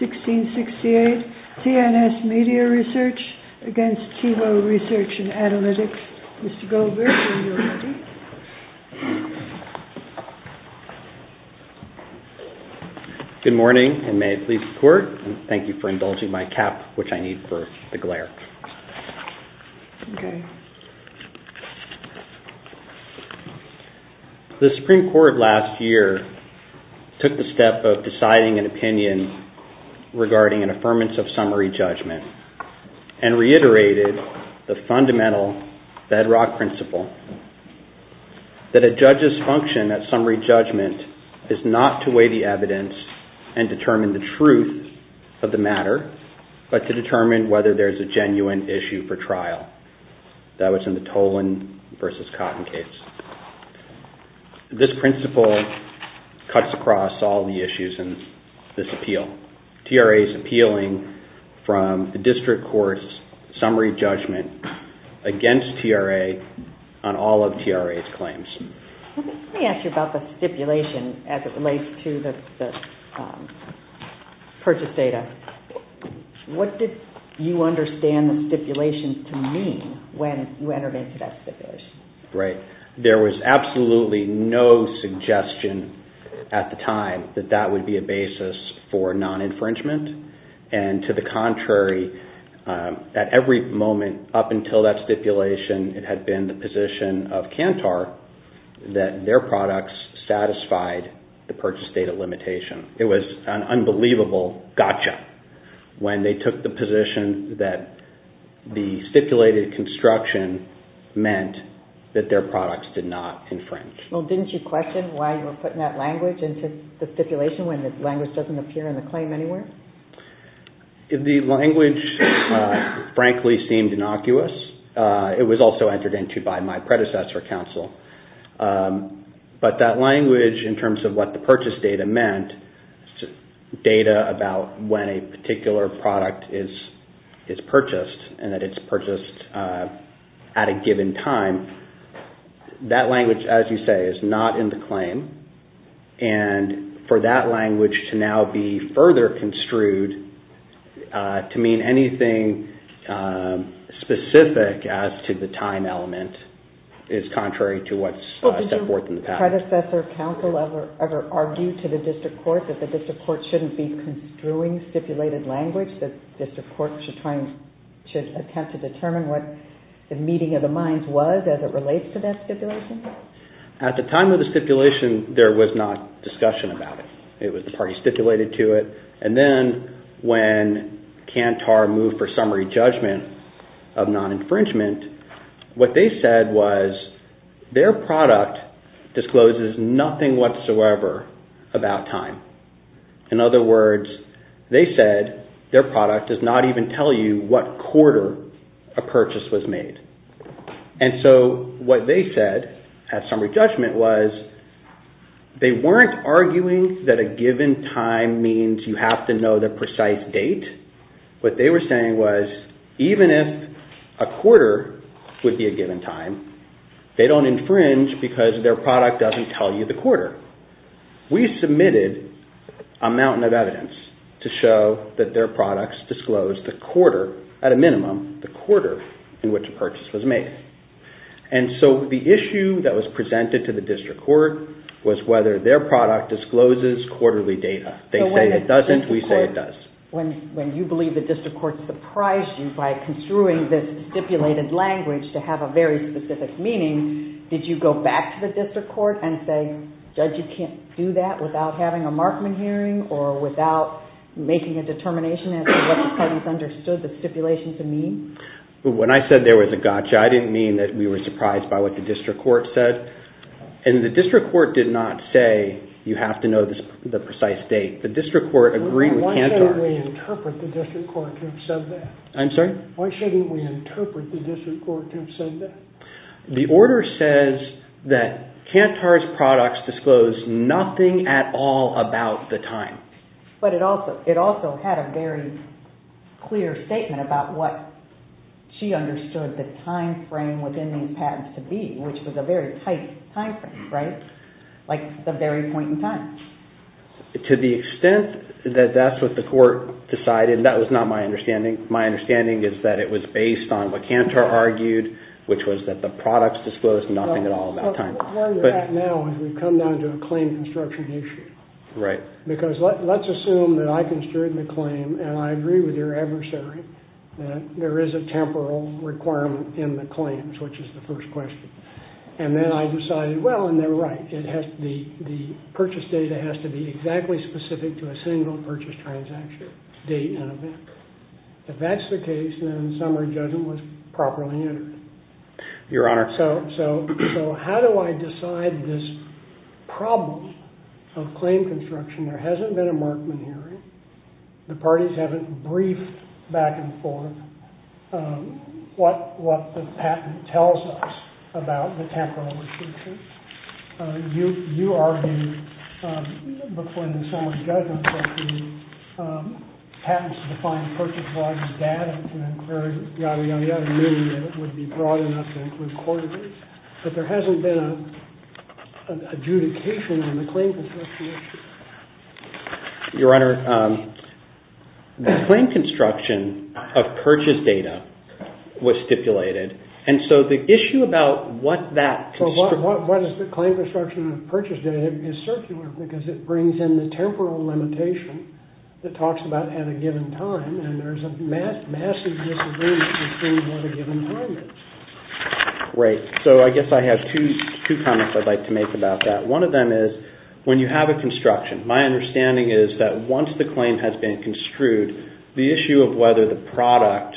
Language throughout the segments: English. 14-1668 TNS Media Research, LLC v. TiVo Research And Analytics Mr. Goldberg, when you're ready. Good morning, and may I please report? Thank you for indulging my cap, which I need for the glare. The Supreme Court last year took the step of deciding an opinion regarding an affirmance of summary judgment and reiterated the fundamental bedrock principle that a judge's function at summary judgment is not to weigh the evidence and determine the truth of the matter, but to determine whether there's a genuine issue for trial. That was in the Tolan v. Cotton case. This principle cuts across all the issues in this appeal. TRA is appealing from the district court's summary judgment against TRA on all of TRA's claims. Let me ask you about the stipulation as it relates to the purchase data. What did you understand the stipulation to mean when you entered into that stipulation? There was absolutely no suggestion at the time that that would be a basis for non-infringement, and to the contrary, at every moment up until that stipulation, it had been the position of Kantar that their products satisfied the purchase data limitation. It was an unbelievable gotcha when they took the position that the stipulated construction meant that their products did not infringe. Well, didn't you question why you were putting that language into the stipulation when the language doesn't appear in the claim anywhere? The language, frankly, seemed innocuous. It was also entered into by my predecessor counsel. But that language, in terms of what the purchase data meant, data about when a particular product is purchased and that it's purchased at a given time, that language, as you say, is not in the claim, and for that language to now be further construed to mean anything specific as to the time element is contrary to what's set forth in the patent. Did your predecessor counsel ever argue to the district court that the district court shouldn't be construing stipulated language, that the district court should attempt to determine what the meeting of the minds was as it relates to that stipulation? At the time of the stipulation, there was not discussion about it. It was the party stipulated to it, and then when Kantar moved for summary judgment of non-infringement, what they said was their product discloses nothing whatsoever about time. In other words, they said their product does not even tell you what quarter a purchase was made. And so what they said at summary judgment was they weren't arguing that a given time means you have to know the precise date. What they were saying was even if a quarter would be a given time, they don't infringe because their product doesn't tell you the quarter. We submitted a mountain of evidence to show that their products disclosed the quarter, at a minimum, the quarter in which a purchase was made. And so the issue that was presented to the district court was whether their product discloses quarterly data. They say it doesn't. We say it does. When you believe the district court surprised you by construing this stipulated language to have a very specific meaning, did you go back to the district court and say, Judge, you can't do that without having a Markman hearing or without making a determination as to what the parties understood the stipulation to mean? When I said there was a gotcha, I didn't mean that we were surprised by what the district court said. And the district court did not say you have to know the precise date. The district court agreed with Kantar. Why shouldn't we interpret the district court to have said that? I'm sorry? Why shouldn't we interpret the district court to have said that? The order says that Kantar's products disclose nothing at all about the time. But it also had a very clear statement about what she understood the time frame within these patents to be, which was a very tight time frame, right? Like the very point in time. To the extent that that's what the court decided, that was not my understanding. My understanding is that it was based on what Kantar argued, which was that the products disclosed nothing at all about time. Where you're at now is we've come down to a claim construction issue. Right. Because let's assume that I construed the claim and I agree with your adversary that there is a temporal requirement in the claims, which is the first question. And then I decided, well, and they're right. The purchase data has to be exactly specific to a single purchase transaction date and event. If that's the case, then the summary judgment was properly entered. Your Honor. So how do I decide this problem of claim construction? There hasn't been a Markman hearing. The parties haven't briefed back and forth what the patent tells us about the temporal restriction. You argued before in the summary judgment that the patents defined purchase-wise data can inquire yada, yada, yada, meaning that it would be broad enough to include court dates. But there hasn't been an adjudication in the claim construction issue. Your Honor, the claim construction of purchase data was stipulated. And so the issue about what that construction... Well, why does the claim construction of purchase data is circular? Because it brings in the temporal limitation that talks about at a given time. And there's a massive disagreement between what a given time is. Right. So I guess I have two comments I'd like to make about that. One of them is, when you have a construction, my understanding is that once the claim has been construed, the issue of whether the product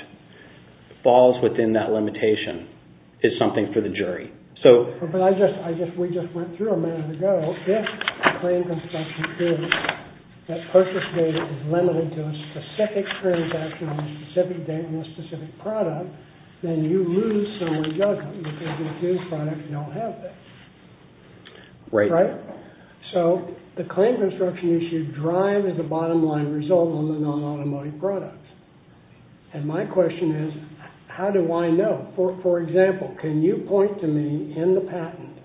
falls within that limitation is something for the jury. But we just went through a minute ago. If the claim construction proves that purchase data is limited to a specific transaction, a specific date, and a specific product, then you lose summary judgment. Right. So the claim construction issue drives the bottom line result on the non-automotive product. And my question is, how do I know? For example, can you point to me in the patent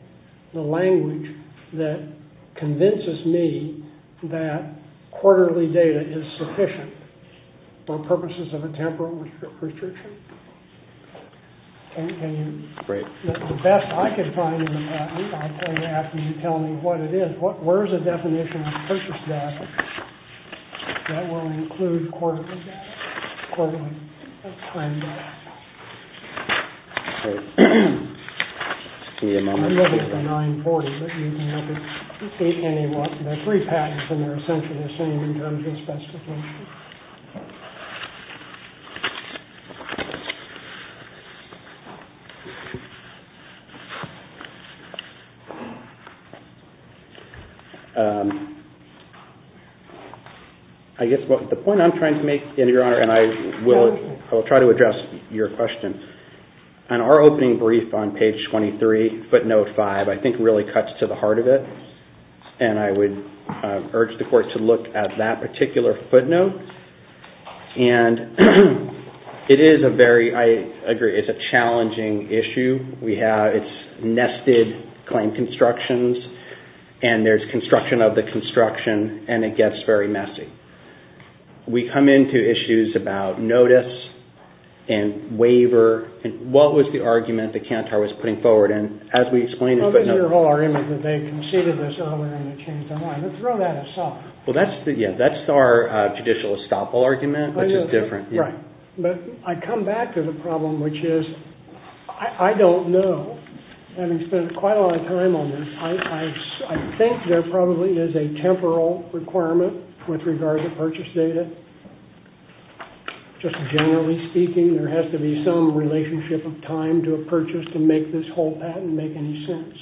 the language that convinces me that quarterly data is sufficient for purposes of a temporal restriction? Can you? Great. The best I can find in the patent, I'll tell you after you tell me what it is. Where is the definition of purchase data that will include quarterly data? I'm looking at the 940, but you can look at any one. There are three patents, and they're essentially the same in terms of specification. I guess the point I'm trying to make, Your Honor, and I will try to address your question. On our opening brief on page 23, footnote 5, I think really cuts to the heart of it. And I would urge the court to look at that particular footnote. I agree, it's a challenging issue. It's nested claim constructions, and there's construction of the construction, and it gets very messy. We come into issues about notice and waiver. What was the argument that Kantar was putting forward? And as we explained in footnote— What was your whole argument that they conceded this earlier and they changed their mind? Throw that at us. Well, that's our judicial estoppel argument, which is different. But I come back to the problem, which is I don't know. Having spent quite a lot of time on this, I think there probably is a temporal requirement with regard to purchase data. Just generally speaking, there has to be some relationship of time to a purchase to make this whole patent make any sense.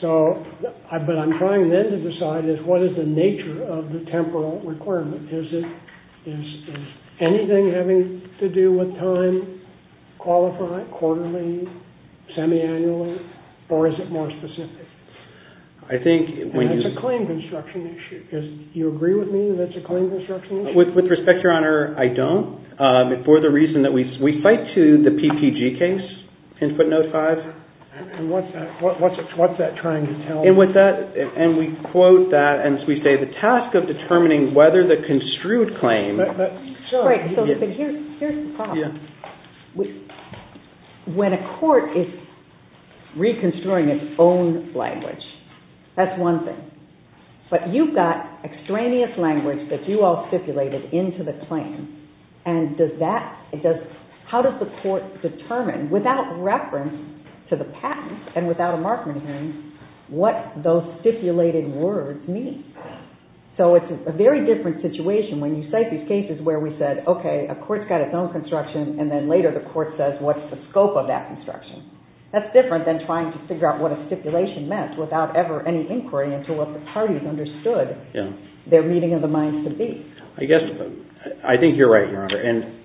But what I'm trying then to decide is what is the nature of the temporal requirement? Is it anything having to do with time, quarterly, semi-annually, or is it more specific? It's a claim construction issue. Do you agree with me that it's a claim construction issue? With respect, Your Honor, I don't. For the reason that we fight to the PPG case in footnote 5. And what's that trying to tell us? And we quote that, and we say, The task of determining whether the construed claim— But here's the problem. When a court is reconstruing its own language, that's one thing. But you've got extraneous language that you all stipulated into the claim, and how does the court determine, without reference to the patent and without a Markman hearing, what those stipulated words mean? So it's a very different situation when you cite these cases where we said, Okay, a court's got its own construction, and then later the court says, What's the scope of that construction? That's different than trying to figure out what a stipulation meant without ever any inquiry until if the parties understood their meeting of the minds to be. I think you're right, Your Honor.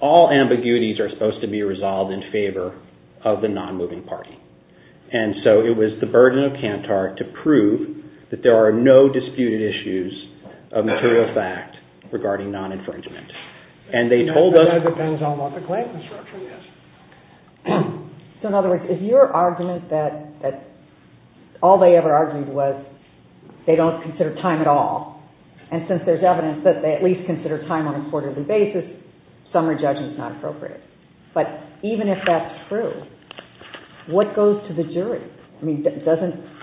All ambiguities are supposed to be resolved in favor of the non-moving party. And so it was the burden of Kantar to prove that there are no disputed issues of material fact regarding non-infringement. And they told us— That depends on what the claim construction is. So in other words, is your argument that all they ever argued was they don't consider time at all? And since there's evidence that they at least consider time on a quarterly basis, some are judging it's not appropriate. But even if that's true, what goes to the jury? I mean, doesn't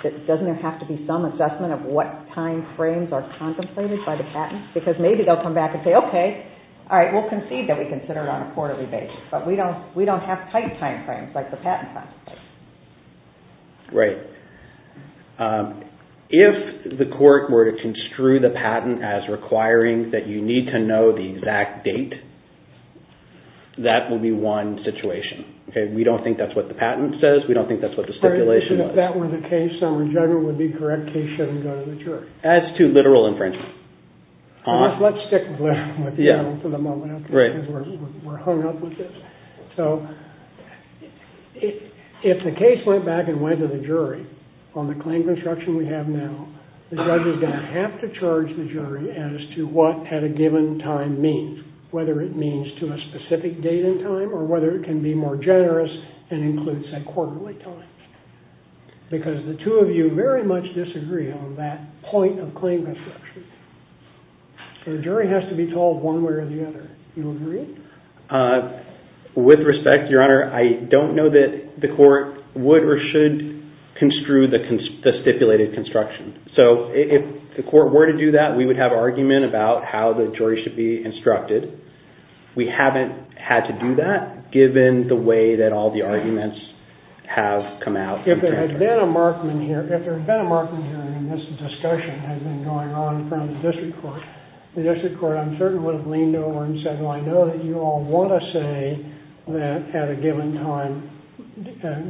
there have to be some assessment of what timeframes are contemplated by the patent? Because maybe they'll come back and say, Okay, all right, we'll concede that we consider it on a quarterly basis, but we don't have tight timeframes like the patent contemplates. Right. If the court were to construe the patent as requiring that you need to know the exact date, that would be one situation. We don't think that's what the patent says. We don't think that's what the stipulation says. So if that were the case, some judgment would be correct. Case shouldn't go to the jury. As to literal infringement. Let's stick with literal for the moment. We're hung up with this. So if the case went back and went to the jury on the claim construction we have now, the judge is going to have to charge the jury as to what had a given time means, whether it means to a specific date in time or whether it can be more generous and includes a quarterly time. Because the two of you very much disagree on that point of claim construction. So the jury has to be told one way or the other. Do you agree? With respect, Your Honor, I don't know that the court would or should construe the stipulated construction. So if the court were to do that, we would have argument about how the jury should be instructed. We haven't had to do that given the way that all the arguments have come out. If there had been a Markman here, if there had been a Markman here and this discussion had been going on in front of the district court, the district court I'm certain would have leaned over and said, well, I know that you all want to say that at a given time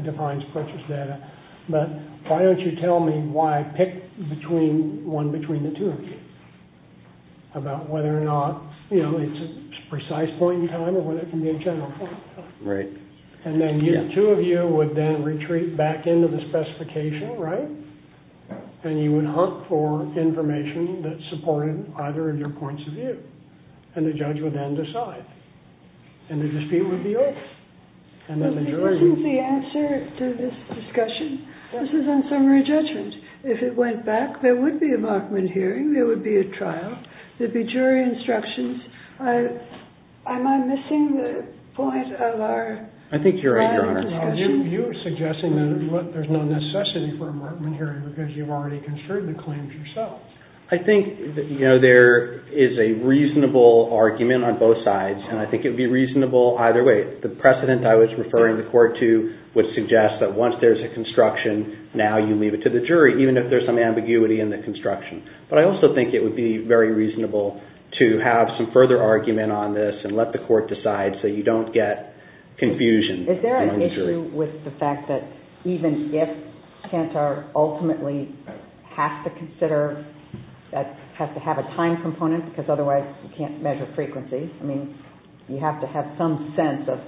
defines purchase data, but why don't you tell me why I picked one between the two of you about whether or not it's a precise point in time or whether it can be a general point in time. Right. And then you two of you would then retreat back into the specification, right? And you would hunt for information that supported either of your points of view. And the judge would then decide. And the dispute would be over. Isn't the answer to this discussion, this is unsummary judgment. If it went back, there would be a Markman hearing. There would be a trial. There'd be jury instructions. Am I missing the point of our trial discussion? You're suggesting that there's no necessity for a Markman hearing because you've already construed the claims yourself. I think there is a reasonable argument on both sides, and I think it would be reasonable either way. The precedent I was referring the court to would suggest that once there's a construction, now you leave it to the jury, even if there's some ambiguity in the construction. But I also think it would be very reasonable to have some further argument on this and let the court decide so you don't get confusion. Is there an issue with the fact that even if CANTAR ultimately has to have a time component, because otherwise you can't measure frequency, I mean, you have to have some sense of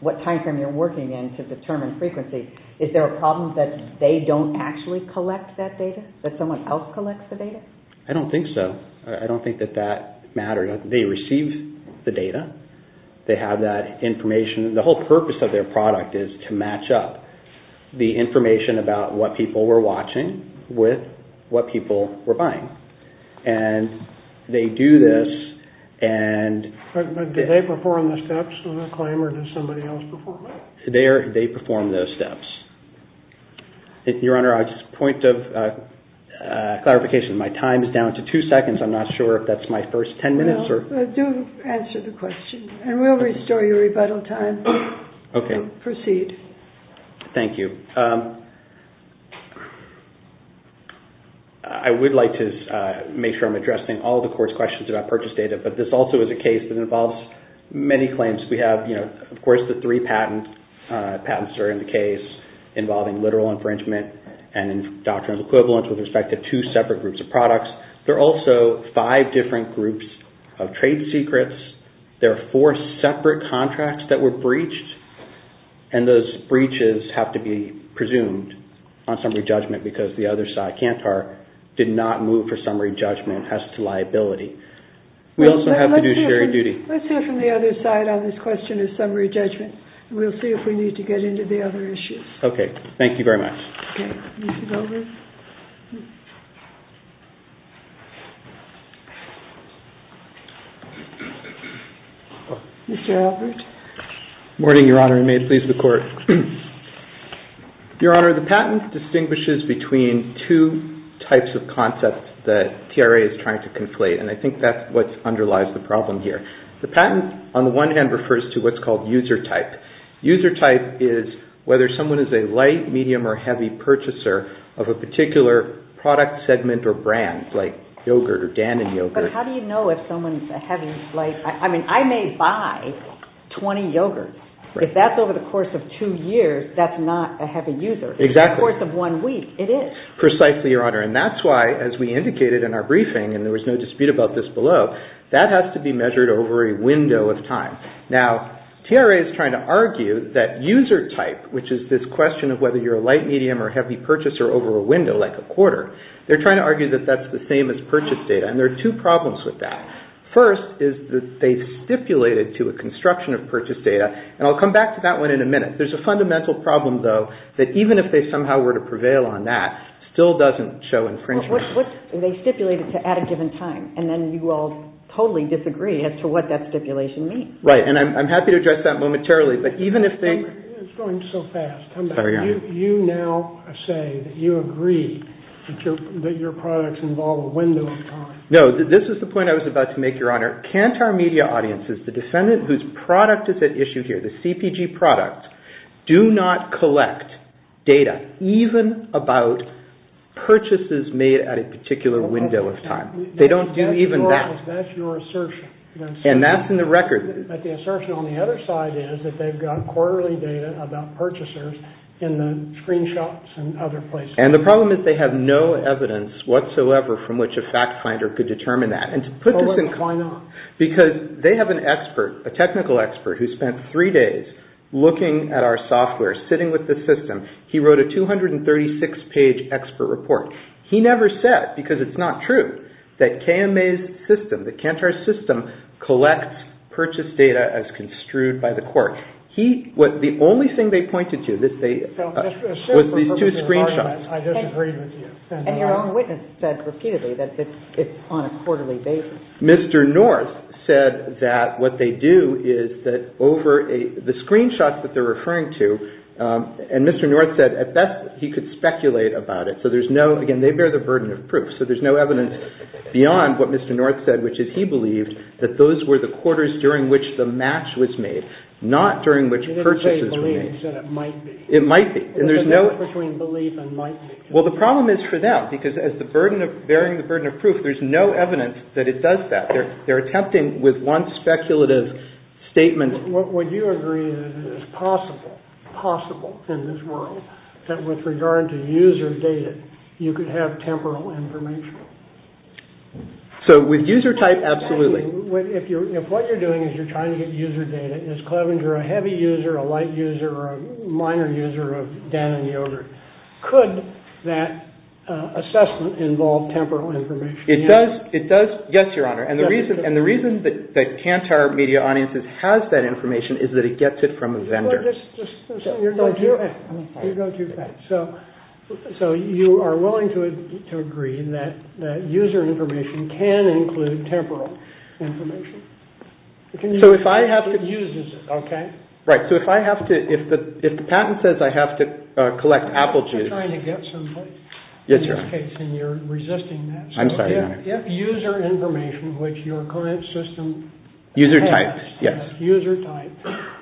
what time frame you're working in to determine frequency, is there a problem that they don't actually collect that data? That someone else collects the data? I don't think so. I don't think that that matters. They receive the data. They have that information. The whole purpose of their product is to match up the information about what people were watching with what people were buying. And they do this and... But do they perform the steps in the claim or does somebody else perform it? They perform those steps. Your Honor, a point of clarification, my time is down to two seconds. I'm not sure if that's my first ten minutes or... Do answer the question and we'll restore your rebuttal time. Proceed. Thank you. I would like to make sure I'm addressing all the court's questions about purchase data, but this also is a case that involves many claims. We have, of course, the three patents that are in the case involving literal infringement There are also five different groups of trade secrets. There are four separate contracts that were breached, and those breaches have to be presumed on summary judgment because the other side, Kantar, did not move for summary judgment as to liability. We also have to do shared duty. Let's hear from the other side on this question of summary judgment. We'll see if we need to get into the other issues. Okay. Thank you very much. Okay. Mr. Goldberg. Mr. Goldberg. Good morning, Your Honor, and may it please the Court. Your Honor, the patent distinguishes between two types of concepts that TRA is trying to conflate, and I think that's what underlies the problem here. The patent, on the one hand, refers to what's called user type. User type is whether someone is a light, medium, or heavy purchaser of a particular product, segment, or brand, like yogurt or Dannon yogurt. But how do you know if someone's a heavy? I mean, I may buy 20 yogurts. If that's over the course of two years, that's not a heavy user. Exactly. Over the course of one week, it is. Precisely, Your Honor, and that's why, as we indicated in our briefing, and there was no dispute about this below, that has to be measured over a window of time. Now, TRA is trying to argue that user type, which is this question of whether you're a light, medium, or heavy purchaser over a window, like a quarter, they're trying to argue that that's the same as purchase data, and there are two problems with that. First is that they've stipulated to a construction of purchase data, and I'll come back to that one in a minute. There's a fundamental problem, though, that even if they somehow were to prevail on that, still doesn't show infringement. They stipulate it at a given time, and then you will totally disagree as to what that stipulation means. Right, and I'm happy to address that momentarily, but even if they... It's going so fast. I'm sorry, Your Honor. You now say that you agree that your products involve a window of time. No, this is the point I was about to make, Your Honor. Can't our media audiences, the defendant whose product is at issue here, the CPG product, do not collect data even about purchases made at a particular window of time? They don't do even that. That's your assertion. And that's in the record. But the assertion on the other side is that they've got quarterly data about purchasers in the screenshots and other places. And the problem is they have no evidence whatsoever from which a fact finder could determine that. And to put this in... Why not? Because they have an expert, a technical expert, who spent three days looking at our software, sitting with the system. He wrote a 236-page expert report. He never said, because it's not true, that KMA's system, the Kantar system, collects purchase data as construed by the court. The only thing they pointed to was these two screenshots. I disagree with you. And your own witness said repeatedly that it's on a quarterly basis. Mr. North said that what they do is that over the screenshots that they're referring to, and Mr. North said at best he could speculate about it. So there's no... Again, they bear the burden of proof. So there's no evidence beyond what Mr. North said, which is he believed that those were the quarters during which the match was made, not during which purchases were made. You didn't say he believes that it might be. It might be. And there's no... There's a difference between believe and might be. Well, the problem is for them, because bearing the burden of proof, there's no evidence that it does that. They're attempting with one speculative statement... Would you agree that it is possible, possible in this world, that with regard to user data, you could have temporal information? So with user type, absolutely. If what you're doing is you're trying to get user data, is Clevenger a heavy user, a light user, or a minor user of Dan and Yogurt? Could that assessment involve temporal information? It does. It does. Yes, Your Honor. And the reason that Kantar Media Audiences has that information is that it gets it from a vendor. So you're going too fast. So you are willing to agree that user information can include temporal information? So if I have to... It uses it, okay? Right. So if I have to... If the patent says I have to collect apple juice... You're trying to get somebody. Yes, Your Honor. In this case, and you're resisting that. I'm sorry, Your Honor. So if user information, which your current system... User type, yes. User type,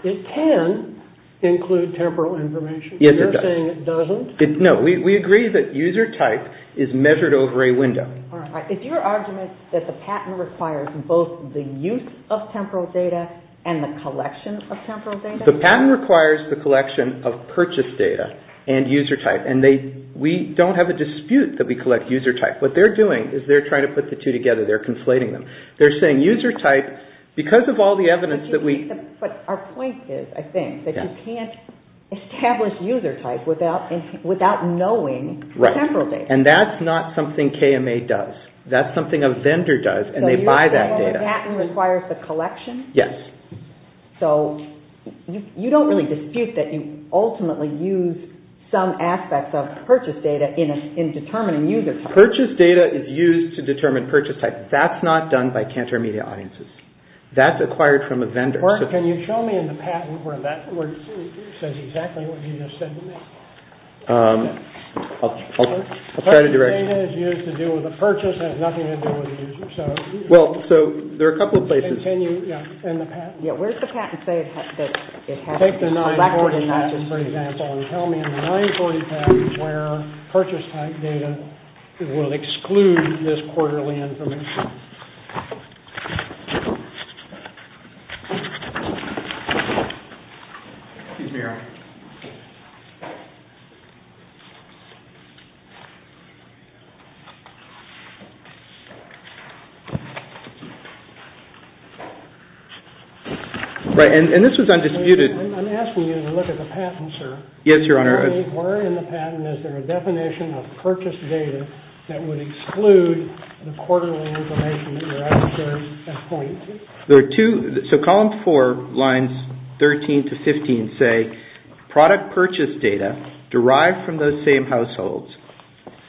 it can include temporal information. Yes, it does. You're saying it doesn't? No. We agree that user type is measured over a window. All right. Is your argument that the patent requires both the use of temporal data and the collection of temporal data? The patent requires the collection of purchase data and user type. And we don't have a dispute that we collect user type. What they're doing is they're trying to put the two together. They're conflating them. They're saying user type, because of all the evidence that we... But our point is, I think, that you can't establish user type without knowing temporal data. Right. And that's not something KMA does. That's something a vendor does, and they buy that data. So you're saying the patent requires the collection? Yes. So you don't really dispute that you ultimately use some aspects of purchase data in determining user type. Purchase data is used to determine purchase type. That's not done by Kantor Media audiences. That's acquired from a vendor. Mark, can you show me in the patent where it says exactly what you just said to me? I'll try to direct you. Purchase data is used to deal with a purchase. It has nothing to do with a user. Well, so there are a couple of places. Can you, yeah, in the patent? Yeah, where does the patent say that it has to be collected? Take the 940 patent, for example, and tell me in the 940 patent where purchase type data will exclude this quarterly information. Excuse me, Eric. Right, and this was undisputed. I'm asking you to look at the patent, sir. Yes, Your Honor. Where in the patent is there a definition of purchase data that would exclude the quarterly information that you're asking for as points? So column four, lines 13 to 15 say product purchase data derived from those same households.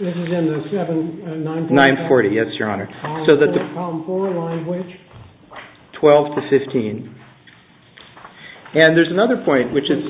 This is in the 940 patent? 940, yes, Your Honor. Column four, line which? 12 to 15. And there's another point, which is…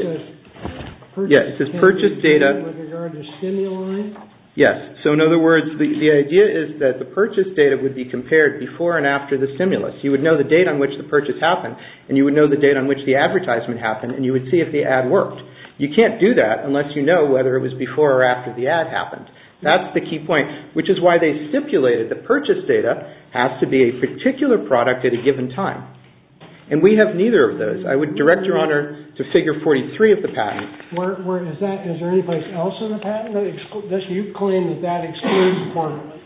It says purchase can't be compared with regard to stimuli? Yes, so in other words, the idea is that the purchase data would be compared before and after the stimulus. You would know the date on which the purchase happened, and you would know the date on which the advertisement happened, and you would see if the ad worked. You can't do that unless you know whether it was before or after the ad happened. That's the key point, which is why they stipulated the purchase data has to be a particular product at a given time, and we have neither of those. I would direct Your Honor to figure 43 of the patent. Where is that? Is there any place else in the patent that you claim that that excludes the quarterlies?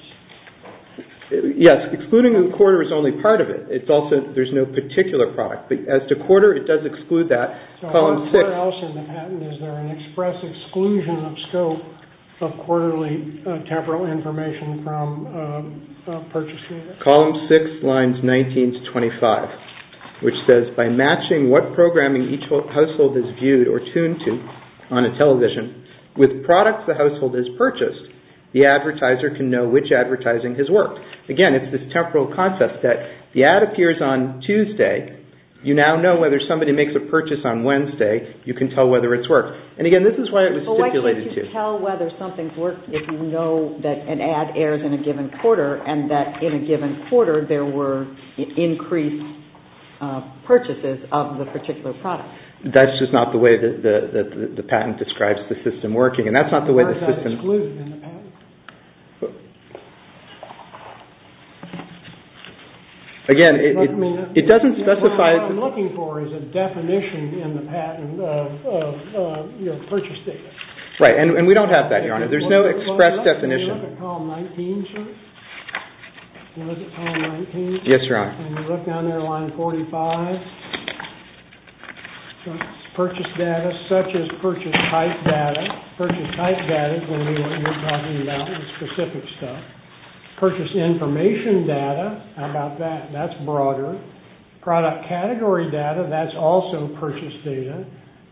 Yes, excluding the quarter is only part of it. It's also, there's no particular product, but as to quarter, it does exclude that. Where else in the patent is there an express exclusion of scope of quarterly temporal information from purchase data? Column 6, lines 19 to 25, which says, By matching what programming each household is viewed or tuned to on a television with products the household has purchased, the advertiser can know which advertising has worked. Again, it's this temporal concept that the ad appears on Tuesday. You now know whether somebody makes a purchase on Wednesday. You can tell whether it's worked, and again, this is why it was stipulated to. But why can't you tell whether something's worked if you know that an ad airs in a given quarter and that in a given quarter there were increased purchases of the particular product? That's just not the way that the patent describes the system working, and that's not the way the system… Again, it doesn't specify… What I'm looking for is a definition in the patent of purchase data. Right, and we don't have that, Your Honor. There's no express definition. Can you look at column 19, sir? Yes, Your Honor. Can you look down there, line 45? Purchase data, such as purchase type data. Purchase type data is when you're talking about specific stuff. Purchase information data, how about that? That's broader. Product category data, that's also purchase data.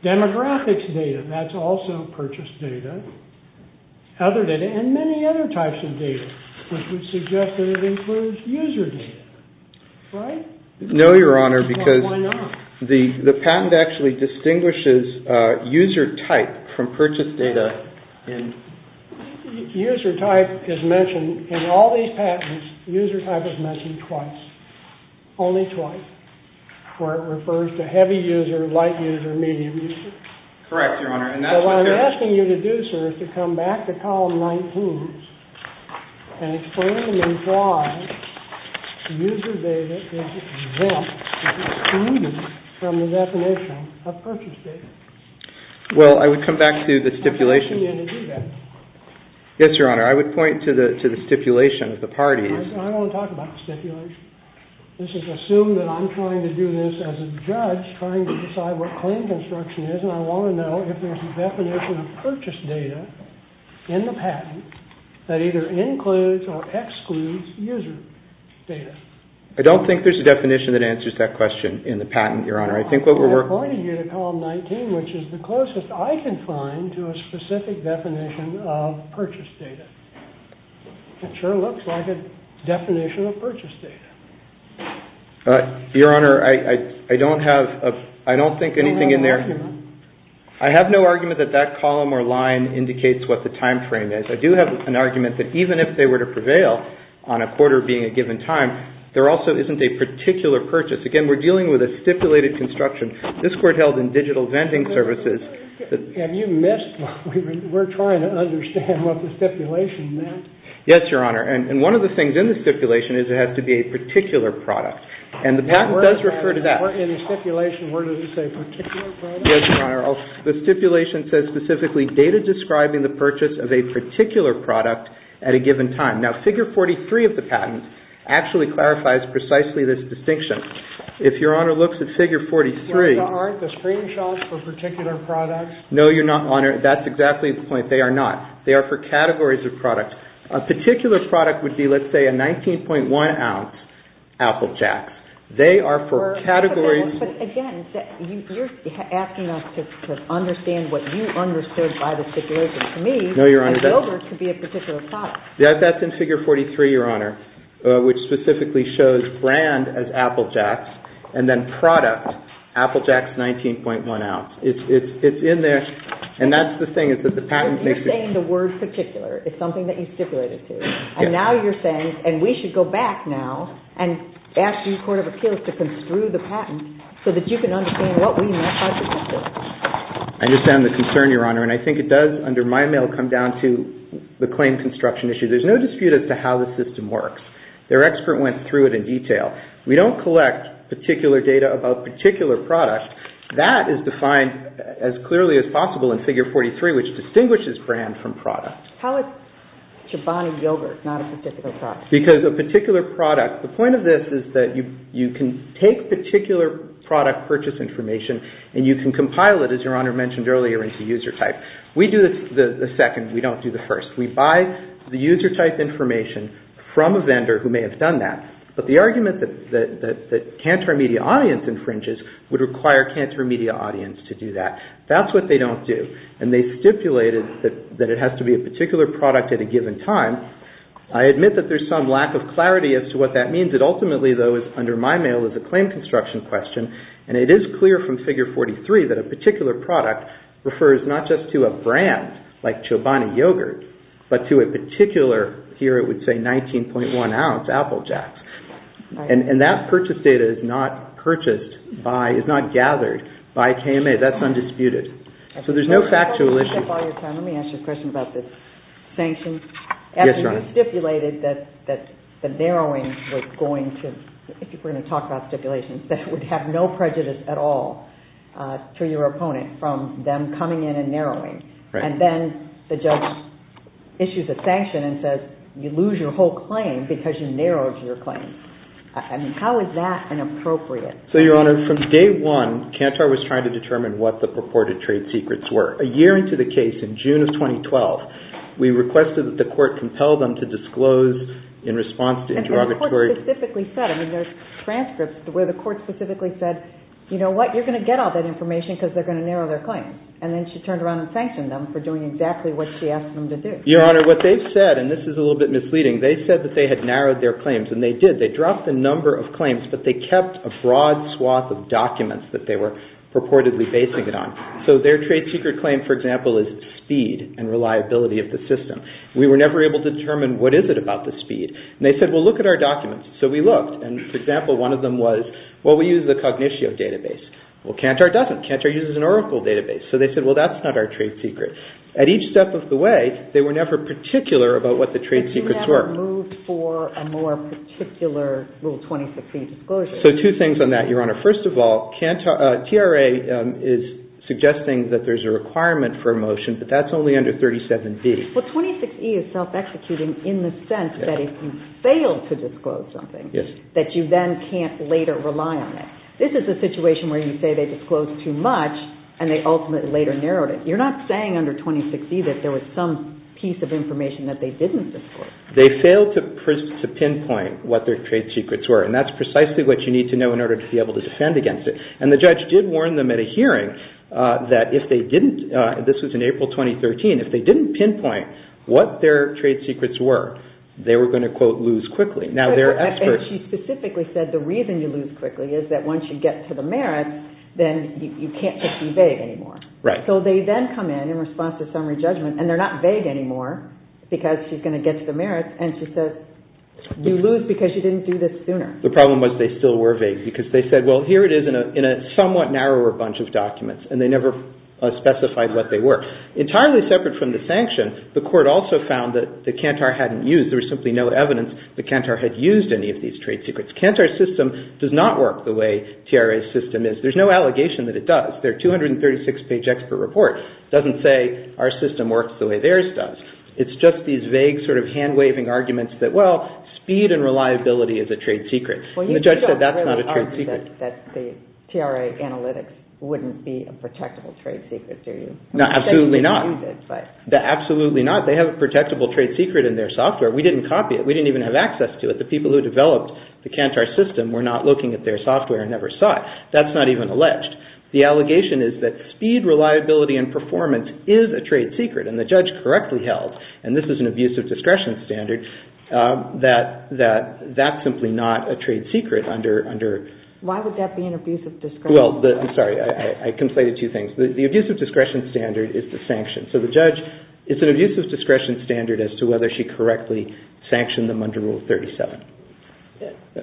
Demographics data, that's also purchase data. Other data, and many other types of data, which would suggest that it includes user data, right? No, Your Honor, because the patent actually distinguishes user type from purchase data in… User type is mentioned in all these patents, user type is mentioned twice, only twice, where it refers to heavy user, light user, medium user. Correct, Your Honor. So what I'm asking you to do, sir, is to come back to column 19 and explain to me why user data is exempt, excluded from the definition of purchase data. Well, I would come back to the stipulation. I'm asking you to do that. Yes, Your Honor, I would point to the stipulation of the parties. I don't want to talk about the stipulation. This is assumed that I'm trying to do this as a judge, trying to decide what claim construction is, and I want to know if there's a definition of purchase data in the patent that either includes or excludes user data. I don't think there's a definition that answers that question in the patent, Your Honor. I think what we're working… I pointed you to column 19, which is the closest I can find to a specific definition of purchase data. It sure looks like a definition of purchase data. Your Honor, I don't have… I don't think anything in there… I have no argument. I have no argument that that column or line indicates what the time frame is. I do have an argument that even if they were to prevail on a quarter being a given time, there also isn't a particular purchase. Again, we're dealing with a stipulated construction. This court held in digital vending services… We're trying to understand what the stipulation meant. Yes, Your Honor. And one of the things in the stipulation is it has to be a particular product, and the patent does refer to that. In the stipulation, where does it say particular product? Yes, Your Honor. The stipulation says specifically data describing the purchase of a particular product at a given time. Now, Figure 43 of the patent actually clarifies precisely this distinction. If Your Honor looks at Figure 43… Aren't the screenshots for particular products? No, Your Honor. That's exactly the point. They are not. They are for categories of products. A particular product would be, let's say, a 19.1-ounce Apple Jacks. They are for categories… Again, you're asking us to understand what you understood by the stipulation. To me, a yogurt could be a particular product. That's in Figure 43, Your Honor, which specifically shows brand as Apple Jacks, and then product, Apple Jacks 19.1-ounce. It's in there, and that's the thing. You're saying the word particular is something that you stipulated to. Now you're saying, and we should go back now and ask the Court of Appeals to construe the patent so that you can understand what we meant by the stipulation. I understand the concern, Your Honor, and I think it does, under my mail, come down to the claim construction issue. There's no dispute as to how the system works. Their expert went through it in detail. We don't collect particular data about particular products. That is defined as clearly as possible in Figure 43, which distinguishes brand from product. How is Chobani yogurt not a particular product? Because a particular product… The point of this is that you can take particular product purchase information, and you can compile it, as Your Honor mentioned earlier, into user type. We do the second. We don't do the first. We buy the user type information from a vendor who may have done that. But the argument that cancer media audience infringes would require cancer media audience to do that. That's what they don't do, and they stipulated that it has to be a particular product at a given time. I admit that there's some lack of clarity as to what that means. It ultimately, though, is under my mail as a claim construction question, and it is clear from Figure 43 that a particular product refers not just to a brand like Chobani yogurt, but to a particular, here it would say 19.1 ounce Apple Jacks. And that purchase data is not purchased by, is not gathered by KMA. That's undisputed. So there's no factual issue. Let me ask you a question about the sanctions. Yes, Your Honor. You stipulated that the narrowing was going to, if we're going to talk about stipulations, that would have no prejudice at all to your opponent from them coming in and narrowing. And then the judge issues a sanction and says, you lose your whole claim because you narrowed your claim. I mean, how is that inappropriate? So, Your Honor, from day one, Cantor was trying to determine what the purported trade secrets were. A year into the case, in June of 2012, we requested that the court compel them to disclose in response to interrogatory. And the court specifically said, I mean, there's transcripts where the court specifically said, you know what, you're going to get all that information because they're going to narrow their claim. And then she turned around and sanctioned them for doing exactly what she asked them to do. Your Honor, what they've said, and this is a little bit misleading, they said that they had narrowed their claims. And they did. They dropped the number of claims, but they kept a broad swath of documents that they were purportedly basing it on. So their trade secret claim, for example, is speed and reliability of the system. We were never able to determine what is it about the speed. And they said, well, look at our documents. So we looked. And, for example, one of them was, well, we use the Cognitio database. Well, Cantor doesn't. Cantor uses an Oracle database. So they said, well, that's not our trade secret. At each step of the way, they were never particular about what the trade secrets were. But you never moved for a more particular Rule 26e disclosure. So two things on that, Your Honor. First of all, TRA is suggesting that there's a requirement for a motion, but that's only under 37b. Well, 26e is self-executing in the sense that if you fail to disclose something, that you then can't later rely on it. This is a situation where you say they disclosed too much, and they ultimately later narrowed it. You're not saying under 26e that there was some piece of information that they didn't disclose. They failed to pinpoint what their trade secrets were. And that's precisely what you need to know in order to be able to defend against it. And the judge did warn them at a hearing that if they didn't, this was in April 2013, if they didn't pinpoint what their trade secrets were, they were going to, quote, lose quickly. Now, they're experts. And she specifically said the reason you lose quickly is that once you get to the merits, then you can't just be vague anymore. Right. So they then come in in response to summary judgment, and they're not vague anymore because she's going to get to the merits, and she says you lose because you didn't do this sooner. The problem was they still were vague because they said, well, here it is in a somewhat narrower bunch of documents, and they never specified what they were. Entirely separate from the sanction, the Court also found that the Kantar hadn't used, there was simply no evidence that Kantar had used any of these trade secrets. Kantar's system does not work the way TRA's system is. There's no allegation that it does. Their 236-page expert report doesn't say our system works the way theirs does. It's just these vague sort of hand-waving arguments that, well, speed and reliability is a trade secret. And the judge said that's not a trade secret. Well, you don't really argue that the TRA analytics wouldn't be a protectable trade secret, do you? Absolutely not. Absolutely not. They have a protectable trade secret in their software. We didn't copy it. We didn't even have access to it. The people who developed the Kantar system were not looking at their software and never saw it. That's not even alleged. The allegation is that speed, reliability, and performance is a trade secret, and the judge correctly held, and this is an abusive discretion standard, that that's simply not a trade secret under- Why would that be an abusive discretion standard? Well, I'm sorry. I conflated two things. The abusive discretion standard is the sanction. So the judge, it's an abusive discretion standard as to whether she correctly sanctioned them under Rule 37,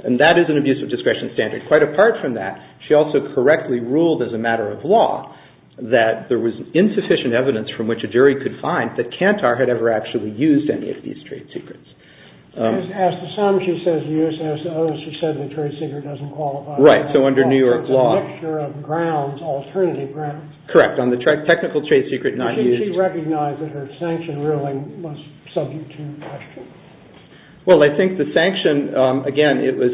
and that is an abusive discretion standard. Quite apart from that, she also correctly ruled as a matter of law that there was insufficient evidence from which a jury could find that Kantar had ever actually used any of these trade secrets. She just asked the sum. She says the USSO. She said the trade secret doesn't qualify. Right. So under New York law- It's a mixture of grounds, alternative grounds. Correct. Shouldn't she recognize that her sanction ruling was subject to question? Well, I think the sanction, again, it was,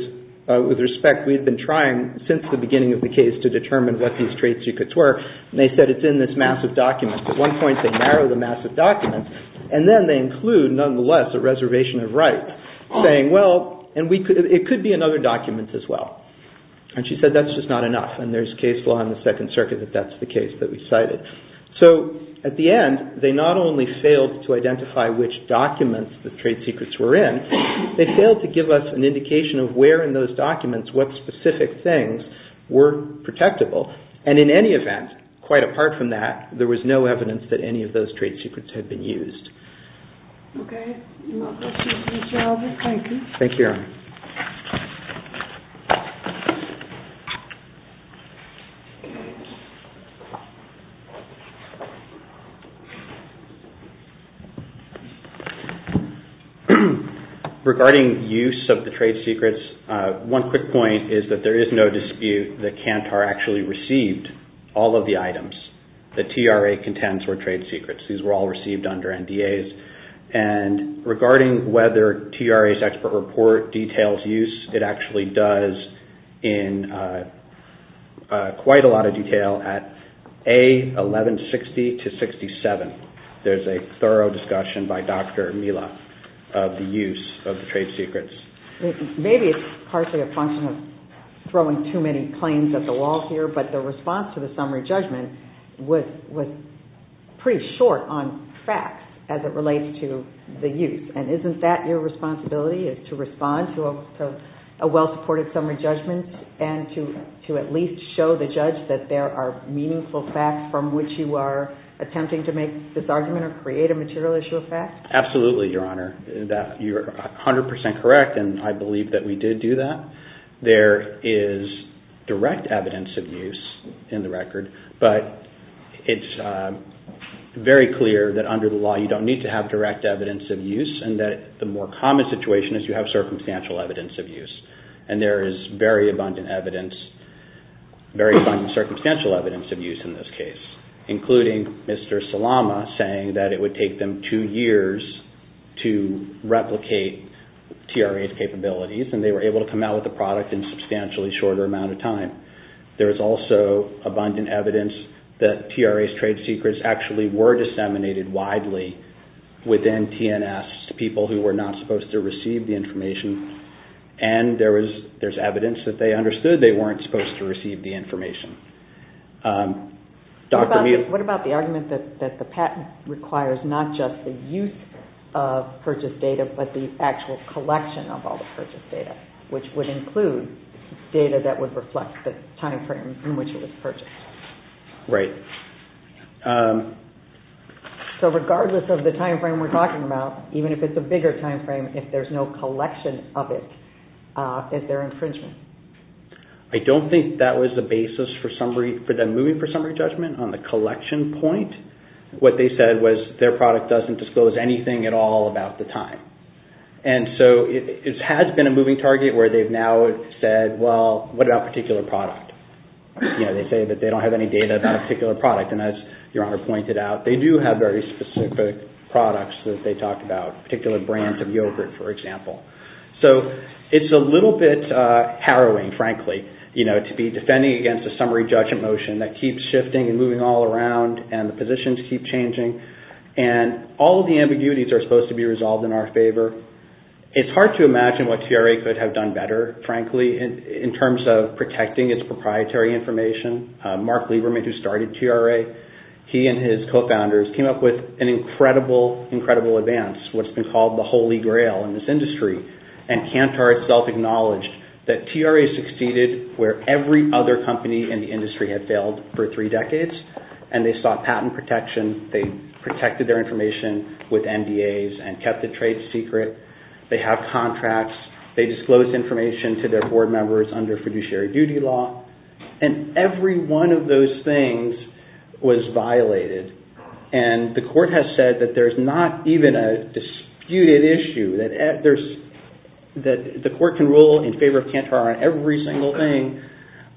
with respect, we've been trying since the beginning of the case to determine what these trade secrets were, and they said it's in this massive document. At one point, they narrowed the massive document, and then they include, nonetheless, a reservation of right saying, well, and it could be in other documents as well, and she said that's just not enough, and there's case law in the Second Circuit that that's the case that we cited. So at the end, they not only failed to identify which documents the trade secrets were in, they failed to give us an indication of where in those documents what specific things were protectable, and in any event, quite apart from that, there was no evidence that any of those trade secrets had been used. Okay. Thank you. Thank you, Erin. Thank you. Regarding use of the trade secrets, one quick point is that there is no dispute that Kantar actually received all of the items that TRA contends were trade secrets. These were all received under NDAs, and regarding whether TRA's expert report details use, it actually does in quite a lot of detail at A1160-67. There's a thorough discussion by Dr. Mila of the use of the trade secrets. Maybe it's partially a function of throwing too many planes at the wall here, but the response to the summary judgment was pretty short on facts as it relates to the use, and isn't that your responsibility is to respond to a well-supported summary judgment and to at least show the judge that there are meaningful facts from which you are attempting to make this argument or create a material issue of facts? Absolutely, Your Honor. You're 100% correct, and I believe that we did do that. There is direct evidence of use in the record, but it's very clear that under the law you don't need to have direct evidence of use and that the more common situation is you have circumstantial evidence of use, and there is very abundant circumstantial evidence of use in this case, including Mr. Salama saying that it would take them two years to replicate TRA's capabilities, and they were able to come out with a product in a substantially shorter amount of time. There is also abundant evidence that TRA's trade secrets actually were disseminated widely within TNS to people who were not supposed to receive the information, and there is evidence that they understood they weren't supposed to receive the information. What about the argument that the patent requires not just the use of purchase data, but the actual collection of all the purchase data, which would include data that would reflect the timeframe in which it was purchased? Right. So regardless of the timeframe we're talking about, even if it's a bigger timeframe, if there's no collection of it, is there infringement? I don't think that was the basis for them moving for summary judgment on the collection point. What they said was their product doesn't disclose anything at all about the time, and so it has been a moving target where they've now said, well, what about a particular product? They say that they don't have any data about a particular product, and as Your Honor pointed out, they do have very specific products that they talk about, a particular brand of yogurt, for example. So it's a little bit harrowing, frankly, to be defending against a summary judgment motion that keeps shifting and moving all around, and the positions keep changing, and all of the ambiguities are supposed to be resolved in our favor. It's hard to imagine what TRA could have done better, frankly, in terms of protecting its proprietary information. Mark Lieberman, who started TRA, he and his co-founders came up with an incredible, incredible advance, what's been called the holy grail in this industry, and Kantor itself acknowledged that TRA succeeded where every other company in the industry had failed for three decades, and they sought patent protection. They protected their information with NDAs and kept the trade secret. They have contracts. They disclosed information to their board members under fiduciary duty law, and every one of those things was violated, and the court has said that there's not even a disputed issue, that the court can rule in favor of Kantor on every single thing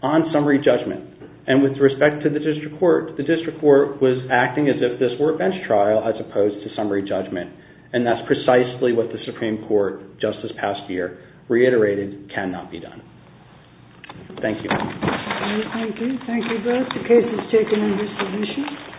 on summary judgment, and with respect to the district court, the district court was acting as if this were a bench trial as opposed to summary judgment, and that's precisely what the Supreme Court, just this past year, reiterated cannot be done. Thank you. Thank you. Thank you both. The case is taken under submission.